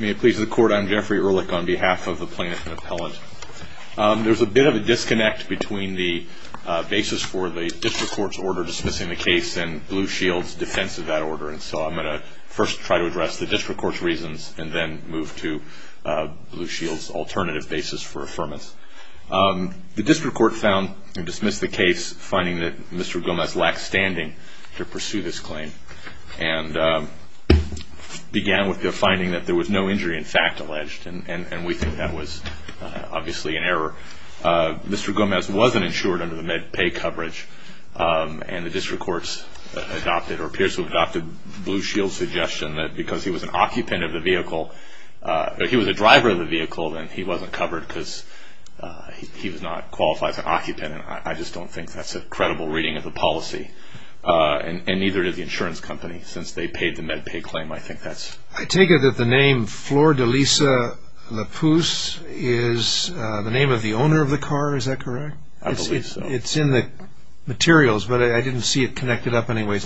May it please the Court, I'm Jeffrey Ehrlich on behalf of the Plaintiff and Appellant. There's a bit of a disconnect between the basis for the District Court's order dismissing the case and Blue Shield's defense of that order, and so I'm going to first try to address the District Court's reasons and then move to Blue Shield's alternative basis for affirmance. The District Court found and dismissed the case finding that Mr. Gomez lacked standing to pursue this claim and began with the finding that there was no injury in fact alleged, and we think that was obviously an error. Mr. Gomez wasn't insured under the MedPay coverage, and the District Court's adopted or appears to have adopted Blue Shield's suggestion that because he was an occupant of the vehicle, he was a driver of the vehicle, then he wasn't covered because he was not qualified as an occupant, and I just don't think that's a credible reading of the policy, and neither did the insurance company since they paid the MedPay claim, I think that's... I take it that the name Flor de Lisa La Puce is the name of the owner of the car, is that correct? I believe so. It's in the materials, but I didn't see it connected up anyway.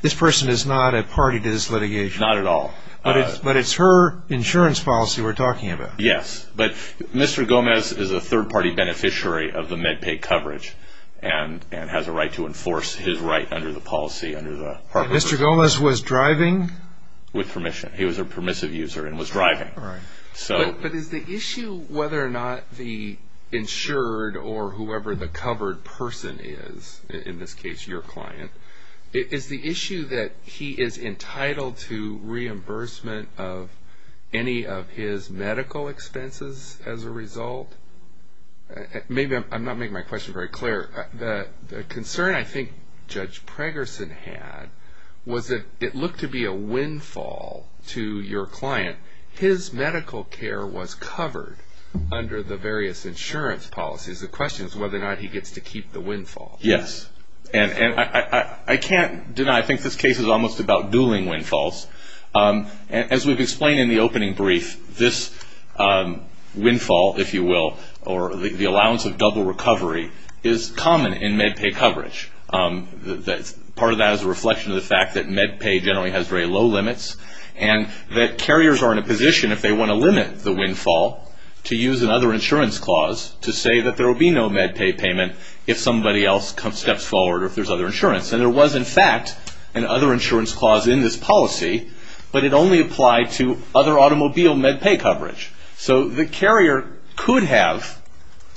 This person is not a party to this litigation. Not at all. But it's her insurance policy we're talking about. Yes, but Mr. Gomez is a third-party beneficiary of the MedPay coverage and has a right to enforce his right under the policy, under the... Mr. Gomez was driving? With permission. He was a permissive user and was driving. But is the issue whether or not the insured or whoever the covered person is, in this case your client, is the issue that he is entitled to reimbursement of any of his medical expenses as a result? Maybe I'm not making my question very clear. The concern I think Judge Pregerson had was that it looked to be a windfall to your client. His medical care was covered under the various insurance policies. The question is whether or not he gets to keep the windfall. Yes, and I can't deny I think this case is almost about dueling windfalls. As we've explained in the opening brief, this windfall, if you will, or the allowance of double recovery is common in MedPay coverage. Part of that is a reflection of the fact that MedPay generally has very low limits and that carriers are in a position, if they want to limit the windfall, to use another insurance clause to say that there will be no MedPay payment if somebody else steps forward or if there's other insurance. There was, in fact, an other insurance clause in this policy, but it only applied to other automobile MedPay coverage. The carrier could have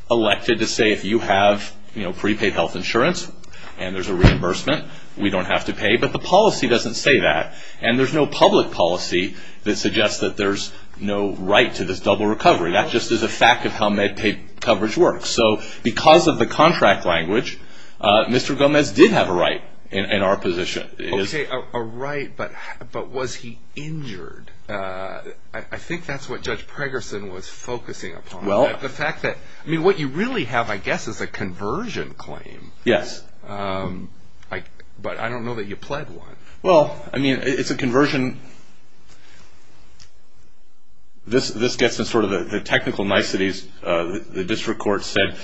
elected to say if you have prepaid health insurance and there's a reimbursement, we don't have to pay, but the policy doesn't say that. There's no public policy that suggests that there's no right to this double recovery. That just is a fact of how MedPay coverage works. So because of the contract language, Mr. Gomez did have a right in our position. Okay, a right, but was he injured? I think that's what Judge Pregerson was focusing upon. The fact that what you really have, I guess, is a conversion claim. Yes. But I don't know that you pled one. Well, I mean, it's a conversion. Again, this gets in sort of the technical niceties. The district court said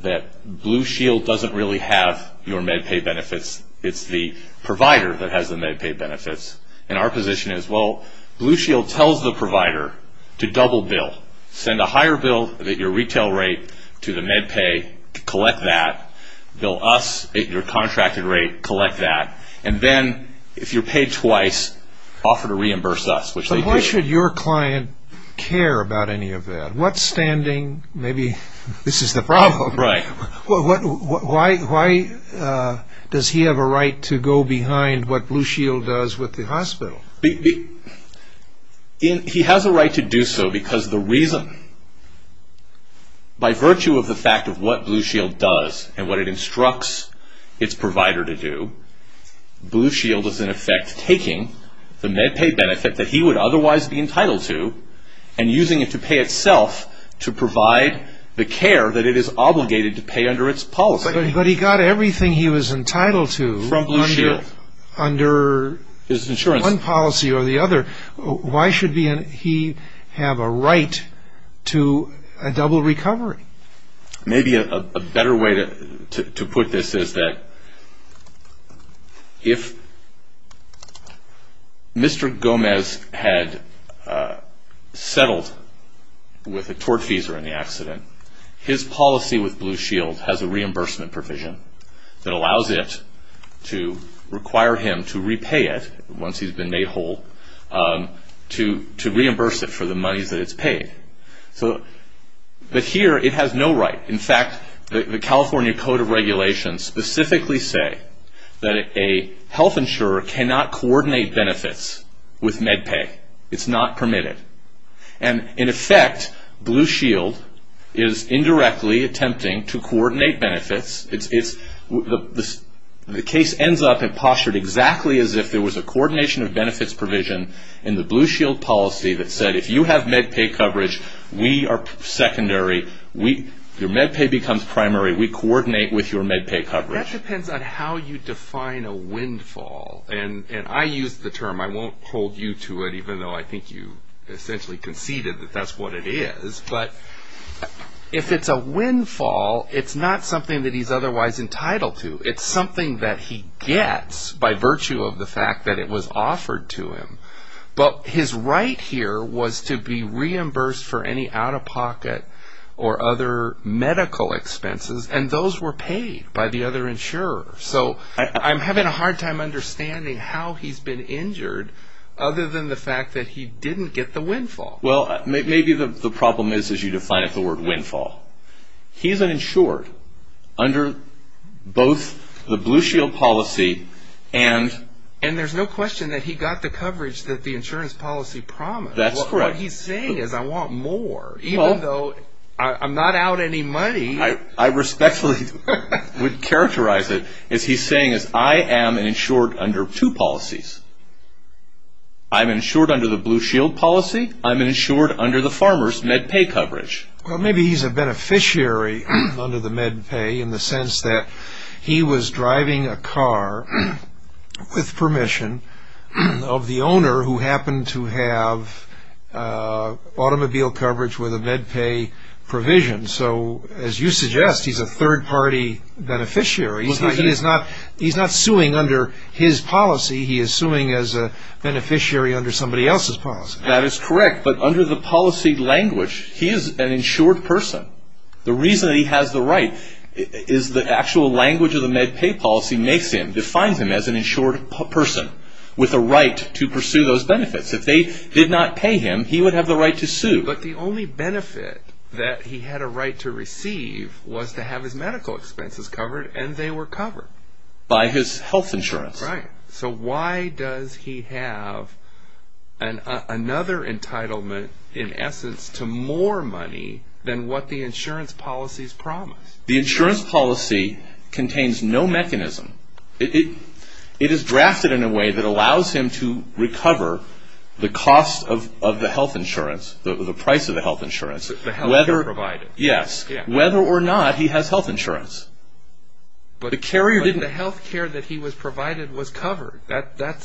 that Blue Shield doesn't really have your MedPay benefits. It's the provider that has the MedPay benefits. And our position is, well, Blue Shield tells the provider to double bill. Send a higher bill at your retail rate to the MedPay, collect that. Bill us at your contracted rate, collect that. And then, if you're paid twice, offer to reimburse us, which they did. But why should your client care about any of that? What standing, maybe this is the problem. Right. Why does he have a right to go behind what Blue Shield does with the hospital? He has a right to do so because the reason, by virtue of the fact of what Blue Shield does and what it instructs its provider to do, Blue Shield is, in effect, taking the MedPay benefit that he would otherwise be entitled to and using it to pay itself to provide the care that it is obligated to pay under its policy. But he got everything he was entitled to under one policy or the other. Why should he have a right to a double recovery? Maybe a better way to put this is that if Mr. Gomez had settled with a tortfeasor in the accident, his policy with Blue Shield has a reimbursement provision that allows it to require him to repay it, once he's been made whole, to reimburse it for the monies that it's paid. But here it has no right. In fact, the California Code of Regulations specifically say that a health insurer cannot coordinate benefits with MedPay. It's not permitted. And, in effect, Blue Shield is indirectly attempting to coordinate benefits. The case ends up and postured exactly as if there was a coordination of benefits provision in the Blue Shield policy that said, if you have MedPay coverage, we are secondary. Your MedPay becomes primary. We coordinate with your MedPay coverage. That depends on how you define a windfall. And I use the term. I won't hold you to it, even though I think you essentially conceded that that's what it is. But if it's a windfall, it's not something that he's otherwise entitled to. It's something that he gets by virtue of the fact that it was offered to him. But his right here was to be reimbursed for any out-of-pocket or other medical expenses, and those were paid by the other insurer. So I'm having a hard time understanding how he's been injured, other than the fact that he didn't get the windfall. Well, maybe the problem is, as you define it, the word windfall. He's an insured under both the Blue Shield policy and... And there's no question that he got the coverage that the insurance policy promised. That's correct. What he's saying is, I want more, even though I'm not out any money. I respectfully would characterize it as he's saying, I am an insured under two policies. I'm insured under the Blue Shield policy. I'm insured under the farmer's MedPay coverage. Well, maybe he's a beneficiary under the MedPay, in the sense that he was driving a car, with permission, of the owner who happened to have automobile coverage with a MedPay provision. So as you suggest, he's a third-party beneficiary. He's not suing under his policy. He is suing as a beneficiary under somebody else's policy. That is correct. But under the policy language, he is an insured person. The reason he has the right is the actual language of the MedPay policy makes him, defines him as an insured person, with a right to pursue those benefits. If they did not pay him, he would have the right to sue. But the only benefit that he had a right to receive was to have his medical expenses covered, and they were covered. By his health insurance. Right. So why does he have another entitlement, in essence, to more money than what the insurance policies promise? The insurance policy contains no mechanism. It is drafted in a way that allows him to recover the cost of the health insurance, the price of the health insurance. The health care provided. Yes. Whether or not he has health insurance. But the health care that he was provided was covered.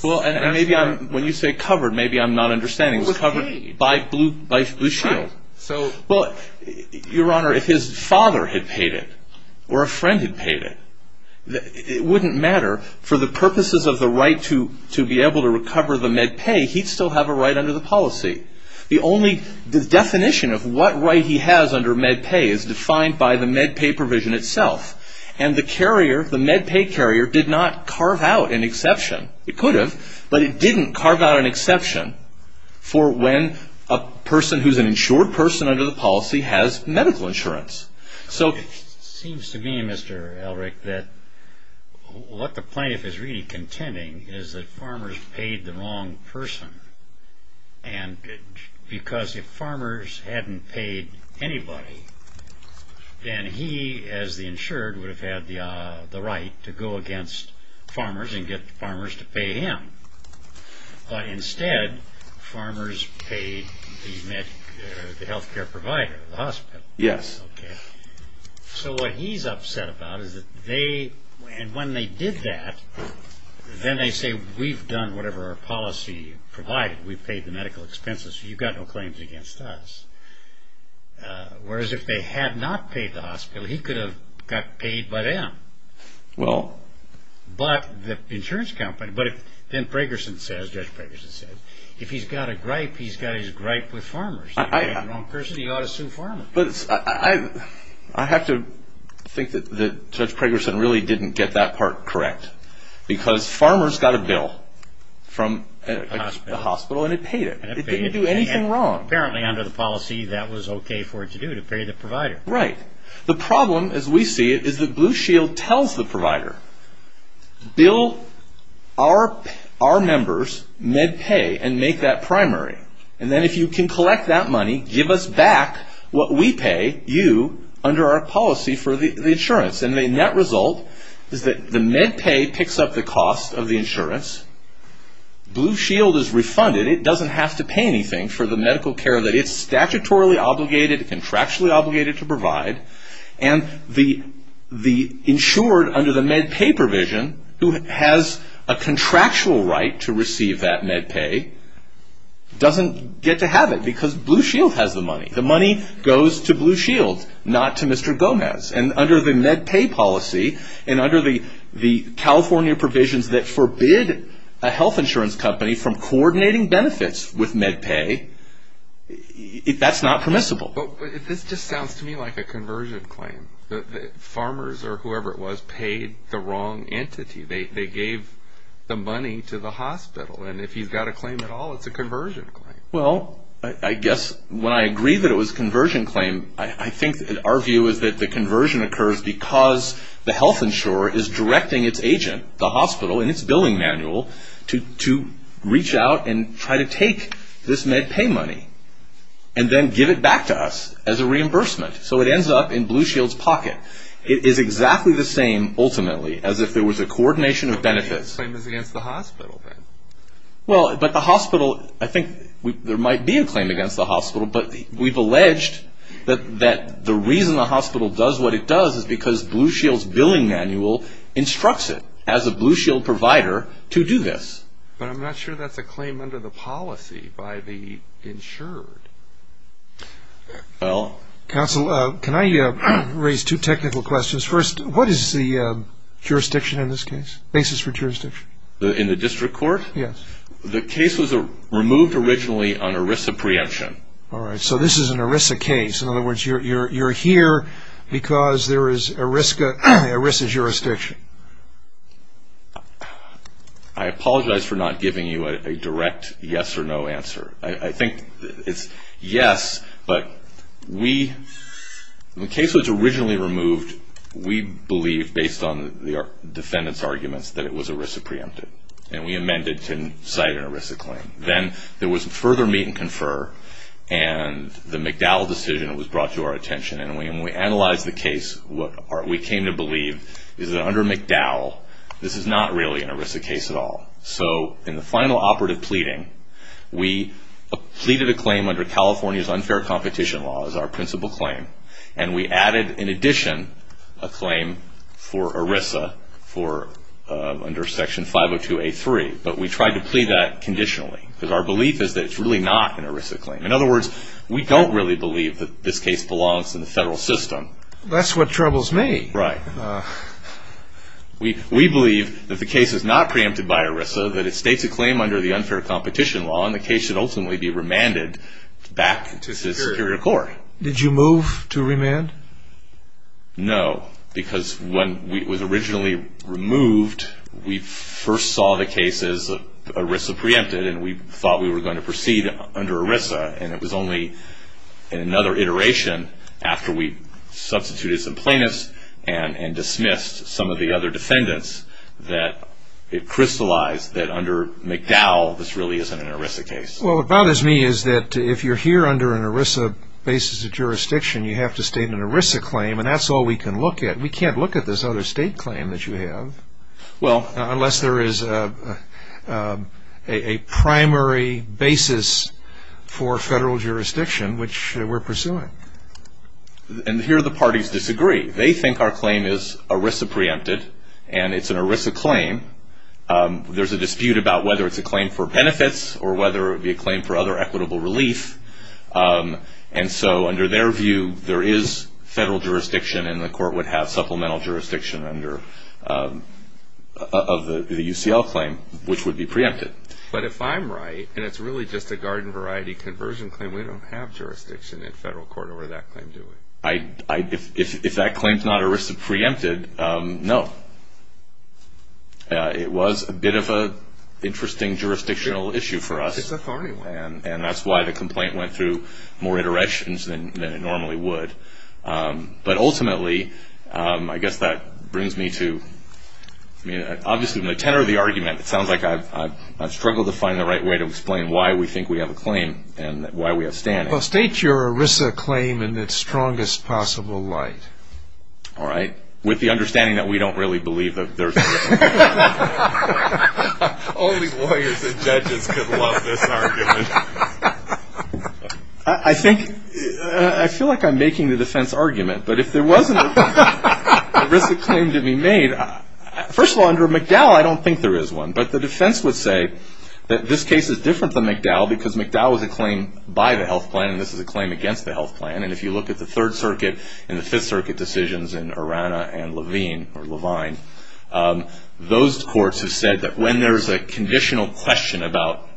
When you say covered, maybe I'm not understanding. It was paid. By Blue Shield. Your Honor, if his father had paid it, or a friend had paid it, it wouldn't matter. For the purposes of the right to be able to recover the MedPay, he would still have a right under the policy. The definition of what right he has under MedPay is defined by the MedPay provision itself. And the MedPay carrier did not carve out an exception. It could have. But it didn't carve out an exception for when a person who's an insured person under the policy has medical insurance. It seems to me, Mr. Elric, that what the plaintiff is really contending is that farmers paid the wrong person. Because if farmers hadn't paid anybody, then he, as the insured, would have had the right to go against farmers and get farmers to pay him. But instead, farmers paid the health care provider, the hospital. Yes. So what he's upset about is that they, and when they did that, then they say, we've done whatever our policy provided. We've paid the medical expenses. You've got no claims against us. Whereas if they had not paid the hospital, he could have got paid by them. Well. But the insurance company, but if Ben Pragerson says, Judge Pragerson says, if he's got a gripe, he's got his gripe with farmers. If he's got the wrong person, he ought to sue farmers. But I have to think that Judge Pragerson really didn't get that part correct. Because farmers got a bill from the hospital and it paid it. It didn't do anything wrong. Apparently, under the policy, that was okay for it to do, to pay the provider. Right. The problem, as we see it, is that Blue Shield tells the provider, bill our members MedPay and make that primary. And then if you can collect that money, give us back what we pay you under our policy for the insurance. And the net result is that the MedPay picks up the cost of the insurance. Blue Shield is refunded. It doesn't have to pay anything for the medical care that it's statutorily obligated, contractually obligated to provide. And the insured under the MedPay provision, who has a contractual right to receive that MedPay, doesn't get to have it. Because Blue Shield has the money. The money goes to Blue Shield, not to Mr. Gomez. And under the MedPay policy, and under the California provisions that forbid a health insurance company from coordinating benefits with MedPay, that's not permissible. But this just sounds to me like a conversion claim. Farmers or whoever it was paid the wrong entity. They gave the money to the hospital. And if he's got a claim at all, it's a conversion claim. Well, I guess when I agree that it was a conversion claim, I think our view is that the conversion occurs because the health insurer is directing its agent, the hospital, in its billing manual, to reach out and try to take this MedPay money. And then give it back to us as a reimbursement. So it ends up in Blue Shield's pocket. It is exactly the same, ultimately, as if there was a coordination of benefits. So the claim is against the hospital, then? Well, but the hospital, I think there might be a claim against the hospital. But we've alleged that the reason the hospital does what it does is because Blue Shield's billing manual instructs it, as a Blue Shield provider, to do this. But I'm not sure that's a claim under the policy by the insured. Counsel, can I raise two technical questions? First, what is the jurisdiction in this case, basis for jurisdiction? In the district court? Yes. The case was removed originally on ERISA preemption. All right. So this is an ERISA case. In other words, you're here because there is ERISA jurisdiction. I apologize for not giving you a direct yes or no answer. I think it's yes, but we – the case was originally removed, we believe, based on the defendant's arguments, that it was ERISA preempted. And we amended to cite an ERISA claim. Then there was further meet and confer, and the McDowell decision was brought to our attention. And when we analyzed the case, what we came to believe is that under McDowell, this is not really an ERISA case at all. So in the final operative pleading, we pleaded a claim under California's unfair competition law as our principal claim, and we added, in addition, a claim for ERISA under Section 502A3. But we tried to plead that conditionally because our belief is that it's really not an ERISA claim. In other words, we don't really believe that this case belongs in the federal system. That's what troubles me. Right. We believe that the case is not preempted by ERISA, that it states a claim under the unfair competition law, and the case should ultimately be remanded back to the superior court. Did you move to remand? No, because when it was originally removed, we first saw the case as ERISA preempted, and we thought we were going to proceed under ERISA. And it was only in another iteration, after we substituted some plaintiffs and dismissed some of the other defendants, that it crystallized that under McDowell, this really isn't an ERISA case. Well, what bothers me is that if you're here under an ERISA basis of jurisdiction, you have to state an ERISA claim, and that's all we can look at. We can't look at this other state claim that you have unless there is a primary basis for federal jurisdiction, which we're pursuing. And here the parties disagree. They think our claim is ERISA preempted, and it's an ERISA claim. There's a dispute about whether it's a claim for benefits or whether it would be a claim for other equitable relief. And so under their view, there is federal jurisdiction, and the court would have supplemental jurisdiction of the UCL claim, which would be preempted. But if I'm right, and it's really just a garden variety conversion claim, we don't have jurisdiction in federal court over that claim, do we? If that claim is not ERISA preempted, no. It was a bit of an interesting jurisdictional issue for us, and that's why the complaint went through more iterations than it normally would. But ultimately, I guess that brings me to, I mean, obviously in the tenor of the argument, it sounds like I've struggled to find the right way to explain why we think we have a claim and why we have standing. Well, state your ERISA claim in its strongest possible light. All right. With the understanding that we don't really believe that there's a claim. Only lawyers and judges could love this argument. I think, I feel like I'm making the defense argument, but if there wasn't an ERISA claim to be made, first of all, under McDowell, I don't think there is one. But the defense would say that this case is different than McDowell, because McDowell is a claim by the health plan, and this is a claim against the health plan. And if you look at the Third Circuit and the Fifth Circuit decisions in Urana and Levine, those courts have said that when there's a conditional question about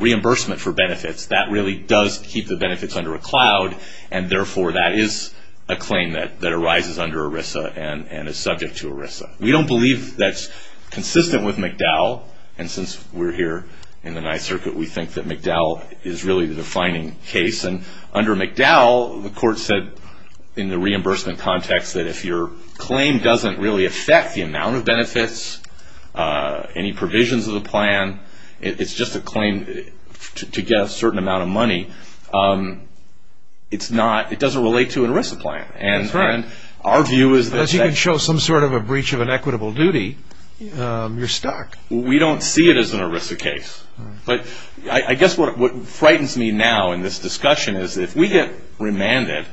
reimbursement for benefits, that really does keep the benefits under a cloud, and therefore that is a claim that arises under ERISA and is subject to ERISA. We don't believe that's consistent with McDowell, and since we're here in the Ninth Circuit, we think that McDowell is really the defining case. And under McDowell, the court said in the reimbursement context, that if your claim doesn't really affect the amount of benefits, any provisions of the plan, it's just a claim to get a certain amount of money, it doesn't relate to an ERISA plan. As you can show some sort of a breach of an equitable duty, you're stuck. We don't see it as an ERISA case. But I guess what frightens me now in this discussion is that if we get remanded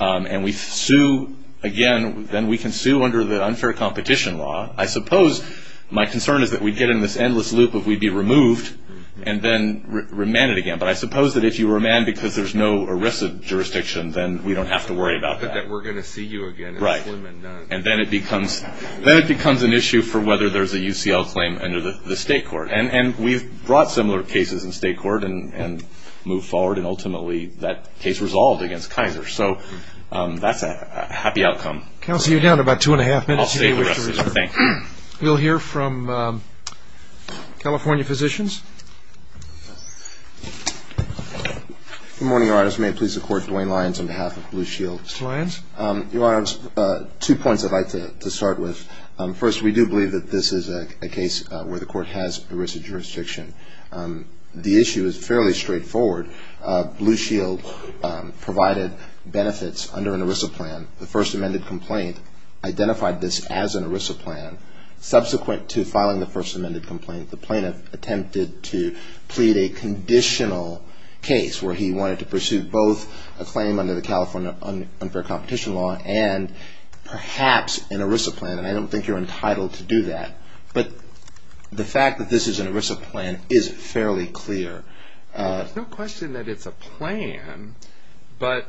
and we sue again, then we can sue under the unfair competition law. I suppose my concern is that we'd get in this endless loop of we'd be removed and then remanded again. But I suppose that if you remand because there's no ERISA jurisdiction, then we don't have to worry about that. We're going to see you again. Right. And then it becomes an issue for whether there's a UCL claim under the state court. And we've brought similar cases in state court and moved forward, and ultimately that case resolved against Kaiser. So that's a happy outcome. Counsel, you're down to about two and a half minutes. I'll save the rest of the thing. We'll hear from California Physicians. Good morning, Your Honor. May it please the Court, Duane Lyons on behalf of Blue Shield. Lyons. Your Honor, two points I'd like to start with. First, we do believe that this is a case where the court has ERISA jurisdiction. The issue is fairly straightforward. Blue Shield provided benefits under an ERISA plan. The first amended complaint identified this as an ERISA plan. Subsequent to filing the first amended complaint, the plaintiff attempted to plead a conditional case where he wanted to pursue both a claim under the California unfair competition law and perhaps an ERISA plan, and I don't think you're entitled to do that. But the fact that this is an ERISA plan is fairly clear. There's no question that it's a plan, but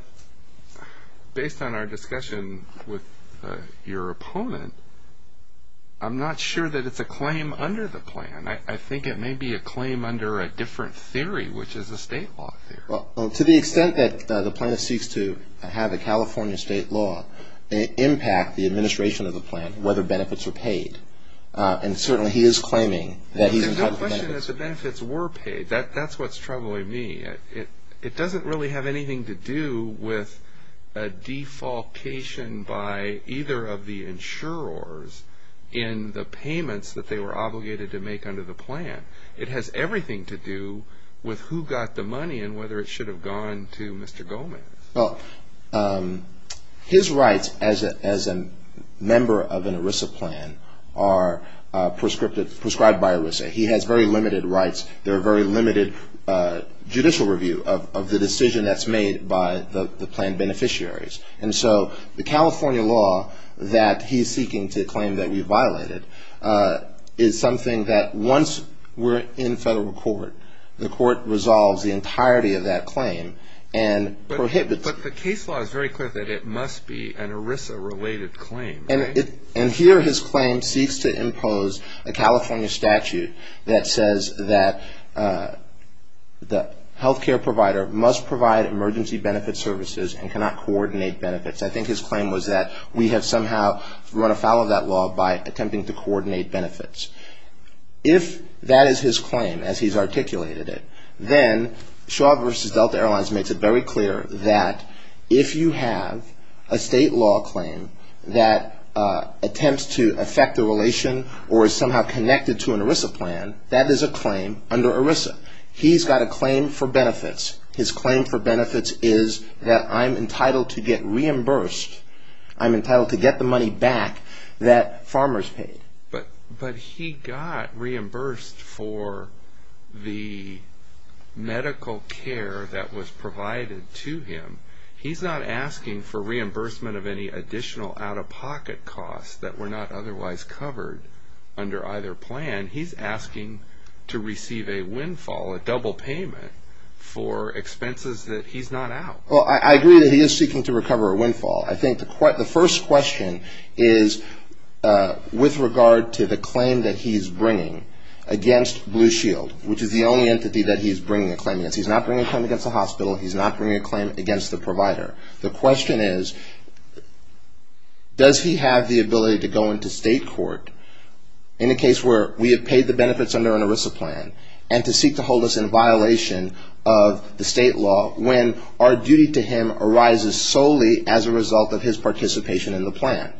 based on our discussion with your opponent, I'm not sure that it's a claim under the plan. I think it may be a claim under a different theory, which is a state law theory. Well, to the extent that the plaintiff seeks to have a California state law impact the administration of the plan, whether benefits are paid, and certainly he is claiming that he's entitled to benefits. The question is the benefits were paid. That's what's troubling me. It doesn't really have anything to do with a defalcation by either of the insurers in the payments that they were obligated to make under the plan. It has everything to do with who got the money and whether it should have gone to Mr. Gomez. Well, his rights as a member of an ERISA plan are prescribed by ERISA. He has very limited rights. There are very limited judicial review of the decision that's made by the plan beneficiaries. And so the California law that he's seeking to claim that we violated is something that once we're in federal court, the court resolves the entirety of that claim and prohibits it. But the case law is very clear that it must be an ERISA-related claim, right? And here his claim seeks to impose a California statute that says that the health care provider must provide emergency benefit services and cannot coordinate benefits. I think his claim was that we have somehow run afoul of that law by attempting to coordinate benefits. If that is his claim as he's articulated it, then Shaw v. Delta Airlines makes it very clear that if you have a state law claim that attempts to affect a relation or is somehow connected to an ERISA plan, that is a claim under ERISA. He's got a claim for benefits. His claim for benefits is that I'm entitled to get reimbursed. I'm entitled to get the money back that farmers paid. But he got reimbursed for the medical care that was provided to him. He's not asking for reimbursement of any additional out-of-pocket costs that were not otherwise covered under either plan. He's asking to receive a windfall, a double payment for expenses that he's not out. Well, I agree that he is seeking to recover a windfall. I think the first question is with regard to the claim that he's bringing against Blue Shield, which is the only entity that he's bringing a claim against. He's not bringing a claim against the hospital. He's not bringing a claim against the provider. The question is, does he have the ability to go into state court in a case where we have paid the benefits under an ERISA plan and to seek to hold us in violation of the state law when our duty to him arises solely as a result of his participation in the plan?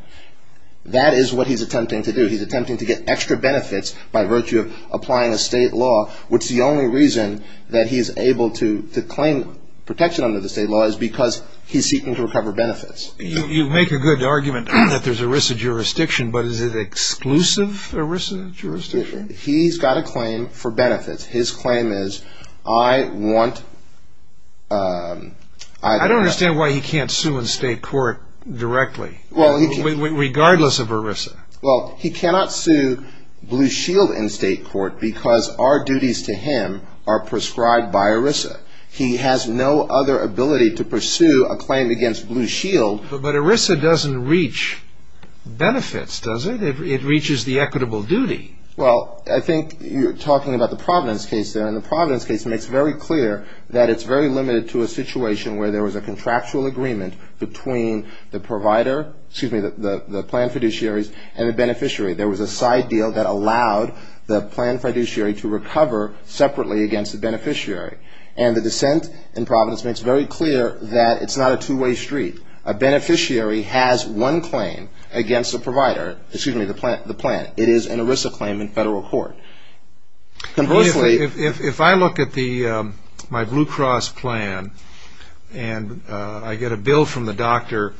That is what he's attempting to do. He's attempting to get extra benefits by virtue of applying a state law, which the only reason that he's able to claim protection under the state law is because he's seeking to recover benefits. You make a good argument that there's ERISA jurisdiction, but is it exclusive ERISA jurisdiction? He's got a claim for benefits. His claim is, I want – I don't understand why he can't sue in state court directly, regardless of ERISA. Well, he cannot sue Blue Shield in state court because our duties to him are prescribed by ERISA. He has no other ability to pursue a claim against Blue Shield. But ERISA doesn't reach benefits, does it? It reaches the equitable duty. Well, I think you're talking about the Providence case there, and the Providence case makes very clear that it's very limited to a situation where there was a contractual agreement between the provider – excuse me, the plan fiduciaries and the beneficiary. There was a side deal that allowed the plan fiduciary to recover separately against the beneficiary. And the dissent in Providence makes very clear that it's not a two-way street. A beneficiary has one claim against the provider – excuse me, the plan. It is an ERISA claim in federal court. If I look at my Blue Cross plan and I get a bill from the doctor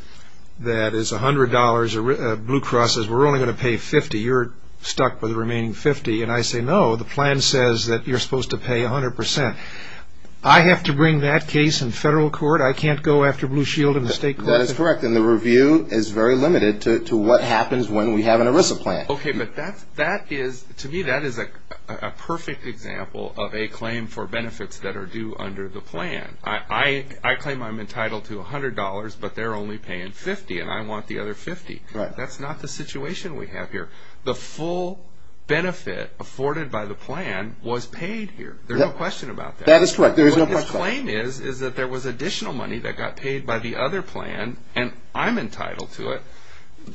that is $100, Blue Cross says we're only going to pay $50, you're stuck with the remaining $50, and I say no, the plan says that you're supposed to pay 100%. I have to bring that case in federal court? I can't go after Blue Shield in the state court? That is correct, and the review is very limited to what happens when we have an ERISA plan. Okay, but to me that is a perfect example of a claim for benefits that are due under the plan. I claim I'm entitled to $100, but they're only paying $50, and I want the other $50. That's not the situation we have here. The full benefit afforded by the plan was paid here. There's no question about that. That is correct. What this claim is is that there was additional money that got paid by the other plan, and I'm entitled to it.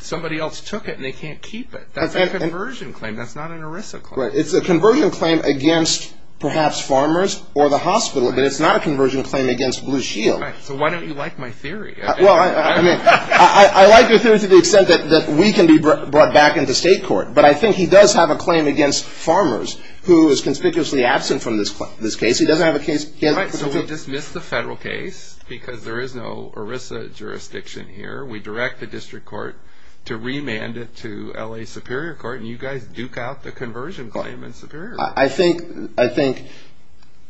Somebody else took it, and they can't keep it. That's a conversion claim. That's not an ERISA claim. It's a conversion claim against perhaps farmers or the hospital, but it's not a conversion claim against Blue Shield. So why don't you like my theory? I like your theory to the extent that we can be brought back into state court, but I think he does have a claim against farmers who is conspicuously absent from this case. He doesn't have a case. So we dismiss the federal case because there is no ERISA jurisdiction here. We direct the district court to remand it to L.A. Superior Court, and you guys duke out the conversion claim in Superior Court. I think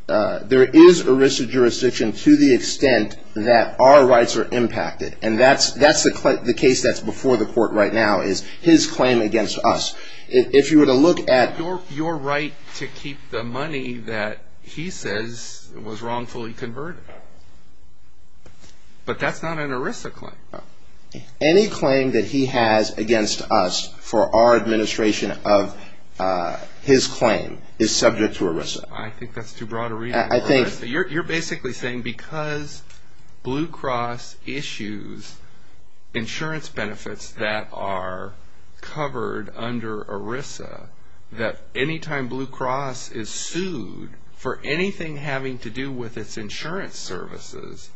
there is ERISA jurisdiction to the extent that our rights are impacted, and that's the case that's before the court right now is his claim against us. If you were to look at your right to keep the money that he says was wrongfully converted, but that's not an ERISA claim. Any claim that he has against us for our administration of his claim is subject to ERISA. I think that's too broad a reading. You're basically saying because Blue Cross issues insurance benefits that are covered under ERISA, that any time Blue Cross is sued for anything having to do with its insurance services,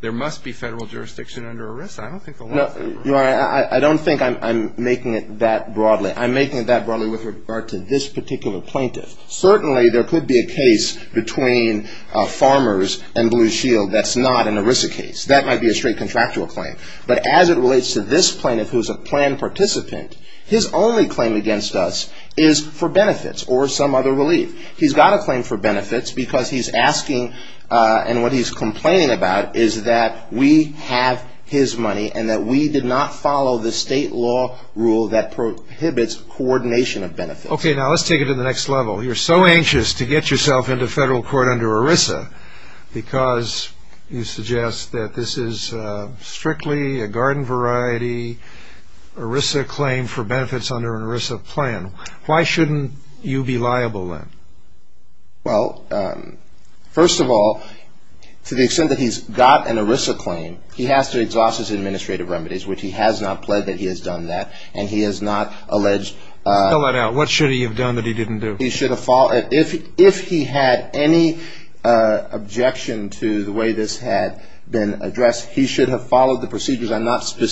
there must be federal jurisdiction under ERISA. I don't think the law is that broad. I don't think I'm making it that broadly. I'm making it that broadly with regard to this particular plaintiff. Certainly there could be a case between farmers and Blue Shield that's not an ERISA case. That might be a straight contractual claim, but as it relates to this plaintiff who is a planned participant, his only claim against us is for benefits or some other relief. He's got a claim for benefits because he's asking, and what he's complaining about is that we have his money and that we did not follow the state law rule that prohibits coordination of benefits. Okay, now let's take it to the next level. You're so anxious to get yourself into federal court under ERISA because you suggest that this is strictly a garden variety ERISA claim for benefits under an ERISA plan. Why shouldn't you be liable then? Well, first of all, to the extent that he's got an ERISA claim, he has to exhaust his administrative remedies, which he has not pled that he has done that, and he has not alleged. What should he have done that he didn't do? If he had any objection to the way this had been addressed, he should have followed the procedures. I'm not familiar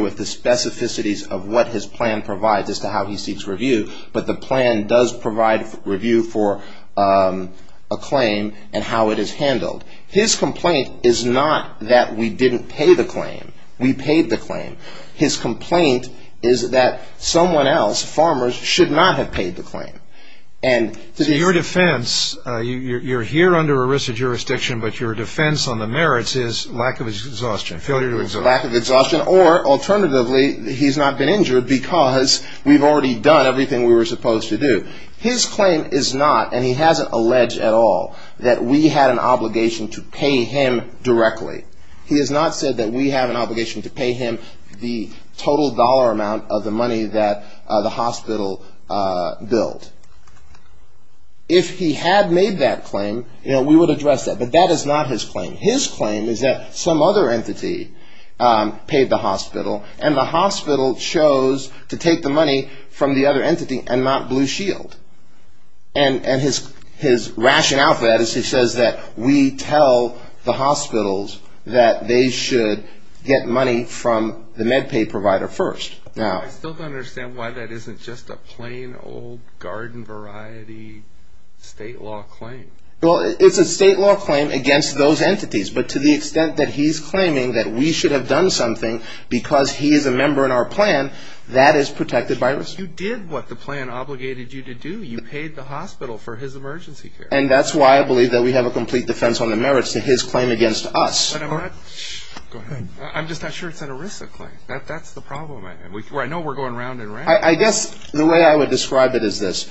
with the specificities of what his plan provides as to how he seeks review, but the plan does provide review for a claim and how it is handled. His complaint is not that we didn't pay the claim. We paid the claim. His complaint is that someone else, farmers, should not have paid the claim. So your defense, you're here under ERISA jurisdiction, but your defense on the merits is lack of exhaustion, failure to exhaust. Lack of exhaustion, or alternatively, he's not been injured because we've already done everything we were supposed to do. His claim is not, and he hasn't alleged at all, that we had an obligation to pay him directly. He has not said that we have an obligation to pay him the total dollar amount of the money that the hospital billed. If he had made that claim, we would address that. But that is not his claim. His claim is that some other entity paid the hospital, and the hospital chose to take the money from the other entity and not Blue Shield. And his rationale for that is he says that we tell the hospitals that they should get money from the MedPay provider first. I still don't understand why that isn't just a plain old garden variety state law claim. Well, it's a state law claim against those entities, but to the extent that he's claiming that we should have done something because he is a member in our plan, that is protected by ERISA. You did what the plan obligated you to do. You paid the hospital for his emergency care. And that's why I believe that we have a complete defense on the merits to his claim against us. I'm just not sure it's an ERISA claim. That's the problem. I know we're going round and round. I guess the way I would describe it is this.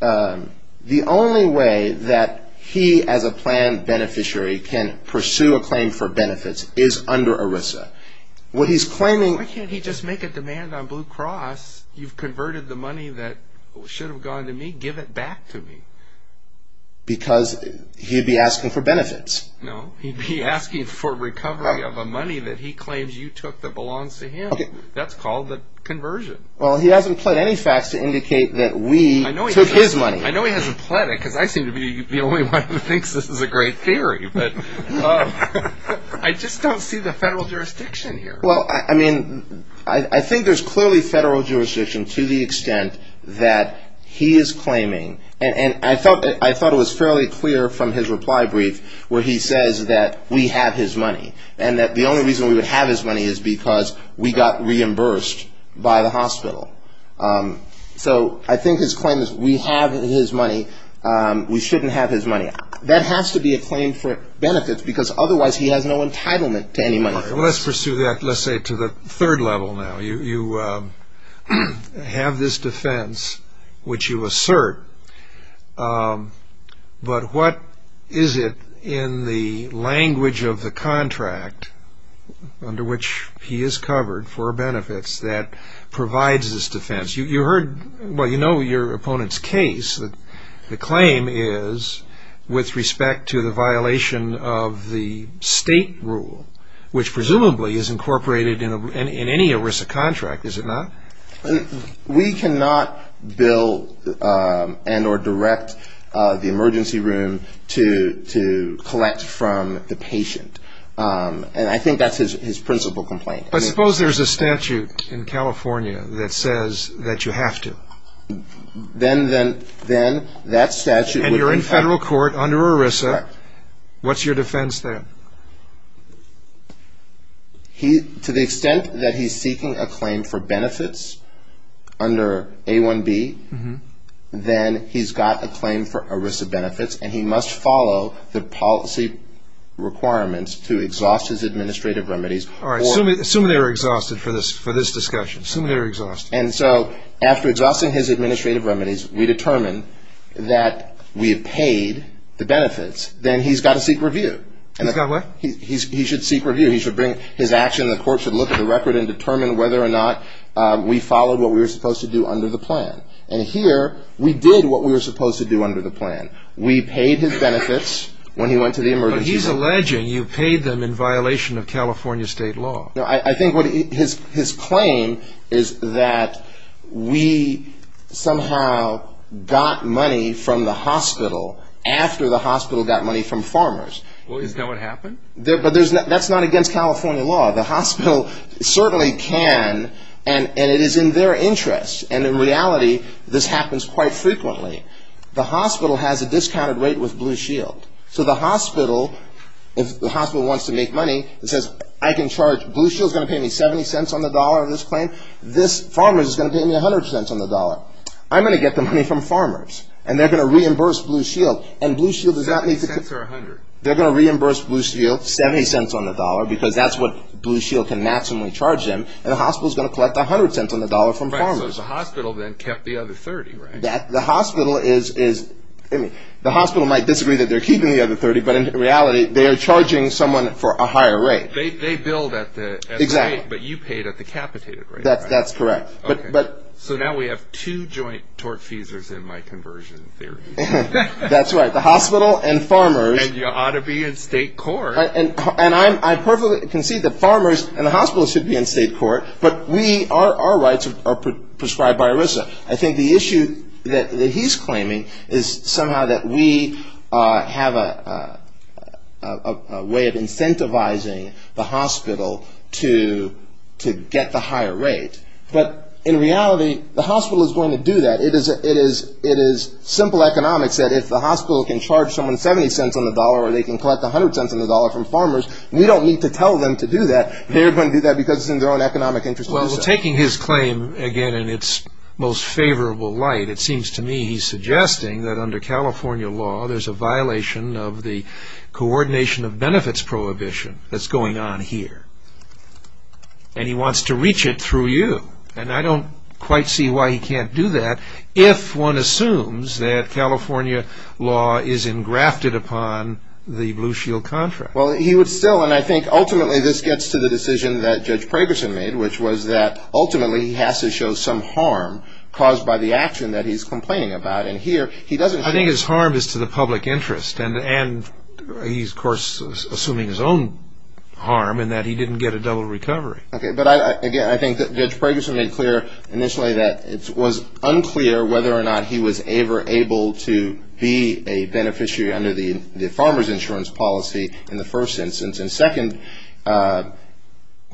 The only way that he as a plan beneficiary can pursue a claim for benefits is under ERISA. Why can't he just make a demand on Blue Cross? You've converted the money that should have gone to me. Give it back to me. Because he'd be asking for benefits. No, he'd be asking for recovery of a money that he claims you took that belongs to him. That's called the conversion. Well, he hasn't pled any facts to indicate that we took his money. I know he hasn't pled it because I seem to be the only one who thinks this is a great theory. But I just don't see the federal jurisdiction here. Well, I mean, I think there's clearly federal jurisdiction to the extent that he is claiming. And I thought it was fairly clear from his reply brief where he says that we have his money and that the only reason we would have his money is because we got reimbursed by the hospital. So I think his claim is we have his money. We shouldn't have his money. That has to be a claim for benefits because otherwise he has no entitlement to any money. Let's pursue that. Let's say to the third level now. You have this defense, which you assert. But what is it in the language of the contract under which he is covered for benefits that provides this defense? You heard, well, you know your opponent's case. The claim is with respect to the violation of the state rule, which presumably is incorporated in any ERISA contract, is it not? We cannot bill and or direct the emergency room to collect from the patient. And I think that's his principal complaint. But suppose there's a statute in California that says that you have to. Then that statute. And you're in federal court under ERISA. What's your defense there? To the extent that he's seeking a claim for benefits under A1B, then he's got a claim for ERISA benefits and he must follow the policy requirements to exhaust his administrative remedies. Assume they're exhausted for this discussion. Assume they're exhausted. And so after exhausting his administrative remedies, we determine that we have paid the benefits. Then he's got to seek review. He's got what? He should seek review. He should bring his action. The court should look at the record and determine whether or not we followed what we were supposed to do under the plan. And here we did what we were supposed to do under the plan. We paid his benefits when he went to the emergency room. But he's alleging you paid them in violation of California state law. I think his claim is that we somehow got money from the hospital after the hospital got money from farmers. Is that what happened? But that's not against California law. The hospital certainly can, and it is in their interest. And in reality, this happens quite frequently. The hospital has a discounted rate with Blue Shield. So the hospital, if the hospital wants to make money and says, I can charge Blue Shield is going to pay me $0.70 on the dollar on this claim. This farmer is going to pay me $0.10 on the dollar. I'm going to get the money from farmers, and they're going to reimburse Blue Shield. And Blue Shield does not need to. $0.70 or $0.10. They're going to reimburse Blue Shield $0.70 on the dollar because that's what Blue Shield can maximally charge them. And the hospital is going to collect $0.10 on the dollar from farmers. Right, so the hospital then kept the other $0.30, right? The hospital might disagree that they're keeping the other $0.30, but in reality, they are charging someone for a higher rate. They billed at the rate, but you paid at the capitated rate, right? That's correct. So now we have two joint tort fees in my conversion theory. That's right. The hospital and farmers. And you ought to be in state court. And I perfectly concede that farmers and the hospital should be in state court, but our rights are prescribed by ERISA. I think the issue that he's claiming is somehow that we have a way of incentivizing the hospital to get the higher rate, but in reality, the hospital is going to do that. It is simple economics that if the hospital can charge someone $0.70 on the dollar or they can collect $0.10 on the dollar from farmers, we don't need to tell them to do that. They're going to do that because it's in their own economic interest. Well, taking his claim again in its most favorable light, it seems to me he's suggesting that under California law, there's a violation of the coordination of benefits prohibition that's going on here. And he wants to reach it through you. And I don't quite see why he can't do that if one assumes that California law is engrafted upon the Blue Shield contract. Well, he would still, and I think ultimately this gets to the decision that Judge Pragerson made, which was that ultimately he has to show some harm caused by the action that he's complaining about. I think his harm is to the public interest. And he's, of course, assuming his own harm in that he didn't get a double recovery. But again, I think that Judge Pragerson made clear initially that it was unclear whether or not he was ever able to be a beneficiary under the farmer's insurance policy in the first instance. And second – Well,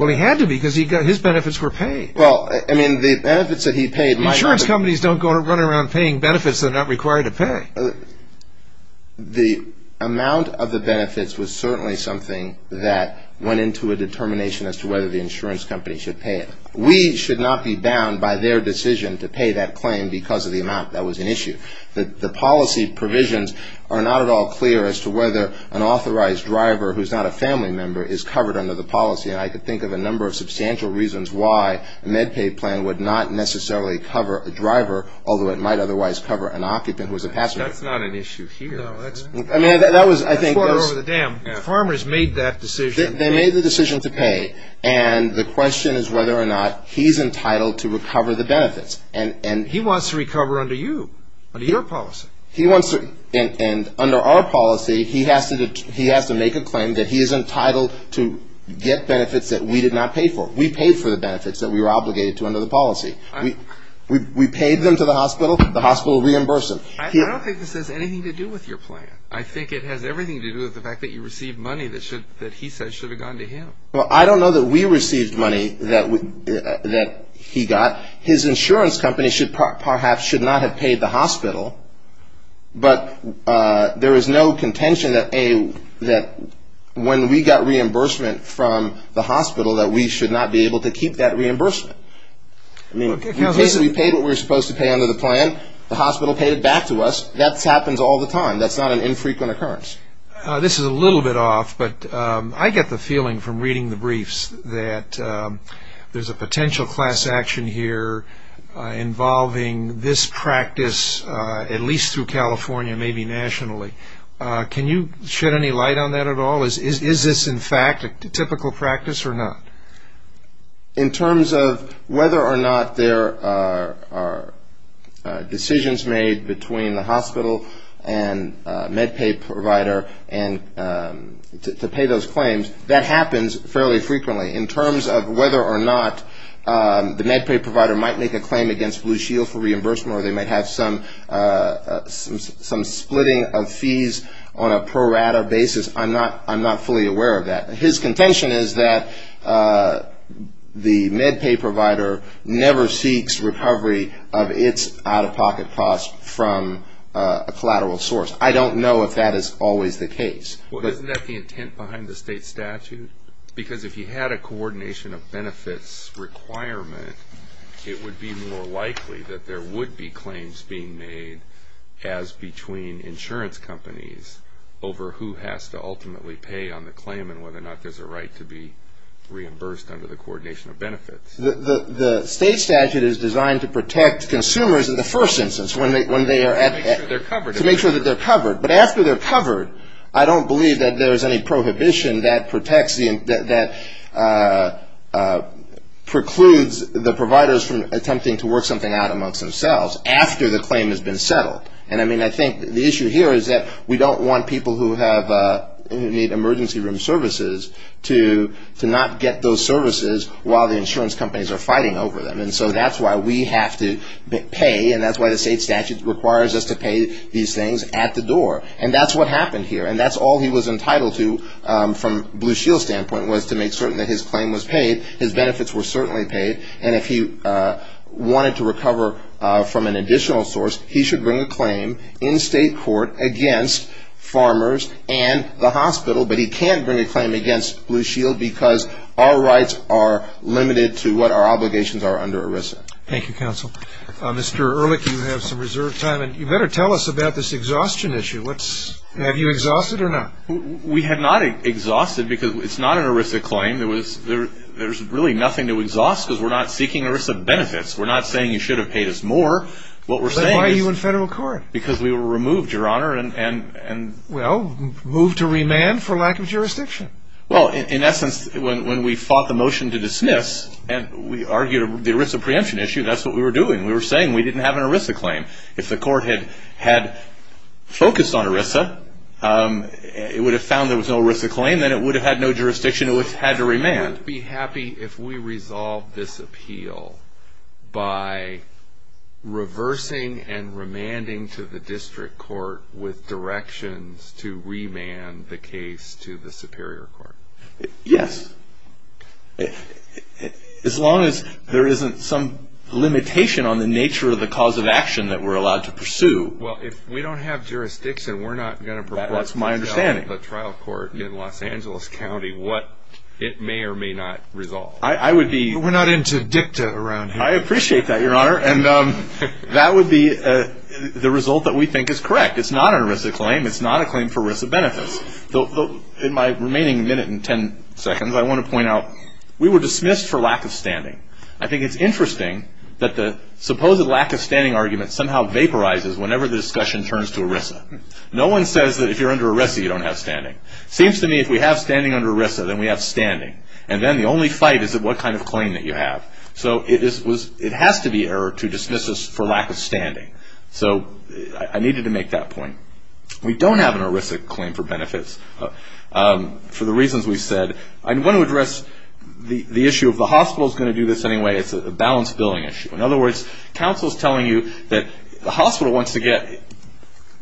he had to be because his benefits were paid. Well, I mean, the benefits that he paid – Insurance companies don't go around paying benefits they're not required to pay. The amount of the benefits was certainly something that went into a determination as to whether the insurance company should pay it. We should not be bound by their decision to pay that claim because of the amount. That was an issue. The policy provisions are not at all clear as to whether an authorized driver who's not a family member is covered under the policy. And I could think of a number of substantial reasons why a MedPay plan would not necessarily cover a driver, although it might otherwise cover an occupant who is a passenger. That's not an issue here. That's far over the dam. Farmers made that decision. They made the decision to pay. And the question is whether or not he's entitled to recover the benefits. He wants to recover under you, under your policy. And under our policy, he has to make a claim that he is entitled to get benefits that we did not pay for. We paid for the benefits that we were obligated to under the policy. We paid them to the hospital. The hospital reimbursed them. I don't think this has anything to do with your plan. I think it has everything to do with the fact that you received money that he said should have gone to him. Well, I don't know that we received money that he got. His insurance company perhaps should not have paid the hospital. But there is no contention that when we got reimbursement from the hospital that we should not be able to keep that reimbursement. I mean, we paid what we were supposed to pay under the plan. The hospital paid it back to us. That happens all the time. That's not an infrequent occurrence. This is a little bit off, but I get the feeling from reading the briefs that there's a potential class action here involving this practice, at least through California, maybe nationally. Can you shed any light on that at all? Is this, in fact, a typical practice or not? In terms of whether or not there are decisions made between the hospital and med pay provider to pay those claims, that happens fairly frequently. In terms of whether or not the med pay provider might make a claim against Blue Shield for reimbursement or they might have some splitting of fees on a pro rata basis, I'm not fully aware of that. His contention is that the med pay provider never seeks recovery of its out-of-pocket costs from a collateral source. I don't know if that is always the case. Well, isn't that the intent behind the state statute? Because if you had a coordination of benefits requirement, it would be more likely that there would be claims being made as between insurance companies over who has to ultimately pay on the claim and whether or not there's a right to be reimbursed under the coordination of benefits. The state statute is designed to protect consumers in the first instance when they are at the To make sure they're covered. To make sure that they're covered. But after they're covered, I don't believe that there's any prohibition that protects the that precludes the providers from attempting to work something out amongst themselves after the claim has been settled. And I think the issue here is that we don't want people who need emergency room services to not get those services while the insurance companies are fighting over them. And so that's why we have to pay, and that's why the state statute requires us to pay these things at the door. And that's what happened here. And that's all he was entitled to from Blue Shield's standpoint was to make certain that his claim was paid. His benefits were certainly paid. And if he wanted to recover from an additional source, he should bring a claim in state court against farmers and the hospital, but he can't bring a claim against Blue Shield because our rights are limited to what our obligations are under ERISA. Thank you, counsel. Mr. Ehrlich, you have some reserved time, and you better tell us about this exhaustion issue. Have you exhausted or not? We have not exhausted because it's not an ERISA claim. There's really nothing to exhaust because we're not seeking ERISA benefits. We're not saying you should have paid us more. Why are you in federal court? Because we were removed, Your Honor. Well, moved to remand for lack of jurisdiction. Well, in essence, when we fought the motion to dismiss and we argued the ERISA preemption issue, that's what we were doing. We were saying we didn't have an ERISA claim. If the court had focused on ERISA, it would have found there was no ERISA claim, then it would have had no jurisdiction. It would have had to remand. Would you be happy if we resolved this appeal by reversing and remanding to the district court with directions to remand the case to the superior court? Yes, as long as there isn't some limitation on the nature of the cause of action that we're allowed to pursue. Well, if we don't have jurisdiction, we're not going to propose to sell the trial court in Los Angeles. It may or may not resolve. We're not into dicta around here. I appreciate that, Your Honor, and that would be the result that we think is correct. It's not an ERISA claim. It's not a claim for ERISA benefits. In my remaining minute and ten seconds, I want to point out we were dismissed for lack of standing. I think it's interesting that the supposed lack of standing argument somehow vaporizes whenever the discussion turns to ERISA. No one says that if you're under ERISA, you don't have standing. It seems to me if we have standing under ERISA, then we have standing, and then the only fight is what kind of claim that you have. So it has to be error to dismiss us for lack of standing. So I needed to make that point. We don't have an ERISA claim for benefits for the reasons we said. I want to address the issue of the hospital is going to do this anyway. It's a balanced billing issue. In other words, counsel is telling you that the hospital wants to get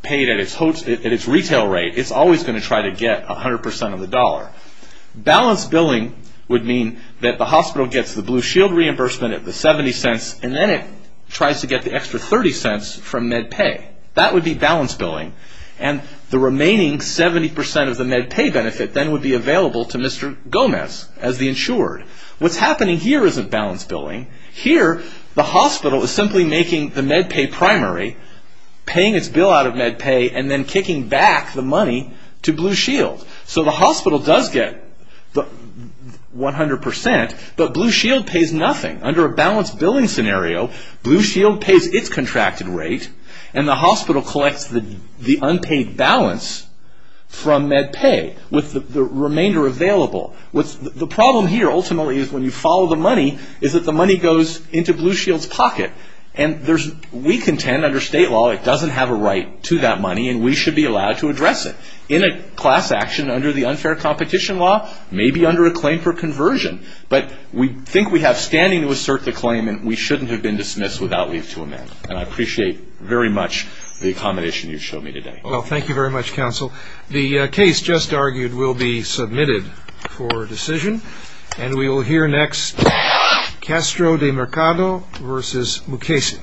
paid at its retail rate. It's always going to try to get 100% of the dollar. Balanced billing would mean that the hospital gets the Blue Shield reimbursement at the $0.70, and then it tries to get the extra $0.30 from MedPay. That would be balanced billing, and the remaining 70% of the MedPay benefit then would be available to Mr. Gomez as the insured. What's happening here isn't balanced billing. Here, the hospital is simply making the MedPay primary, paying its bill out of MedPay, and then kicking back the money to Blue Shield. So the hospital does get 100%, but Blue Shield pays nothing. Under a balanced billing scenario, Blue Shield pays its contracted rate, and the hospital collects the unpaid balance from MedPay with the remainder available. The problem here, ultimately, is when you follow the money, is that the money goes into Blue Shield's pocket. We contend under state law it doesn't have a right to that money, and we should be allowed to address it in a class action under the unfair competition law, maybe under a claim for conversion. But we think we have standing to assert the claim, and we shouldn't have been dismissed without leave to amend. And I appreciate very much the accommodation you've shown me today. Well, thank you very much, counsel. The case just argued will be submitted for decision, and we will hear next Castro de Mercado v. Mukasey.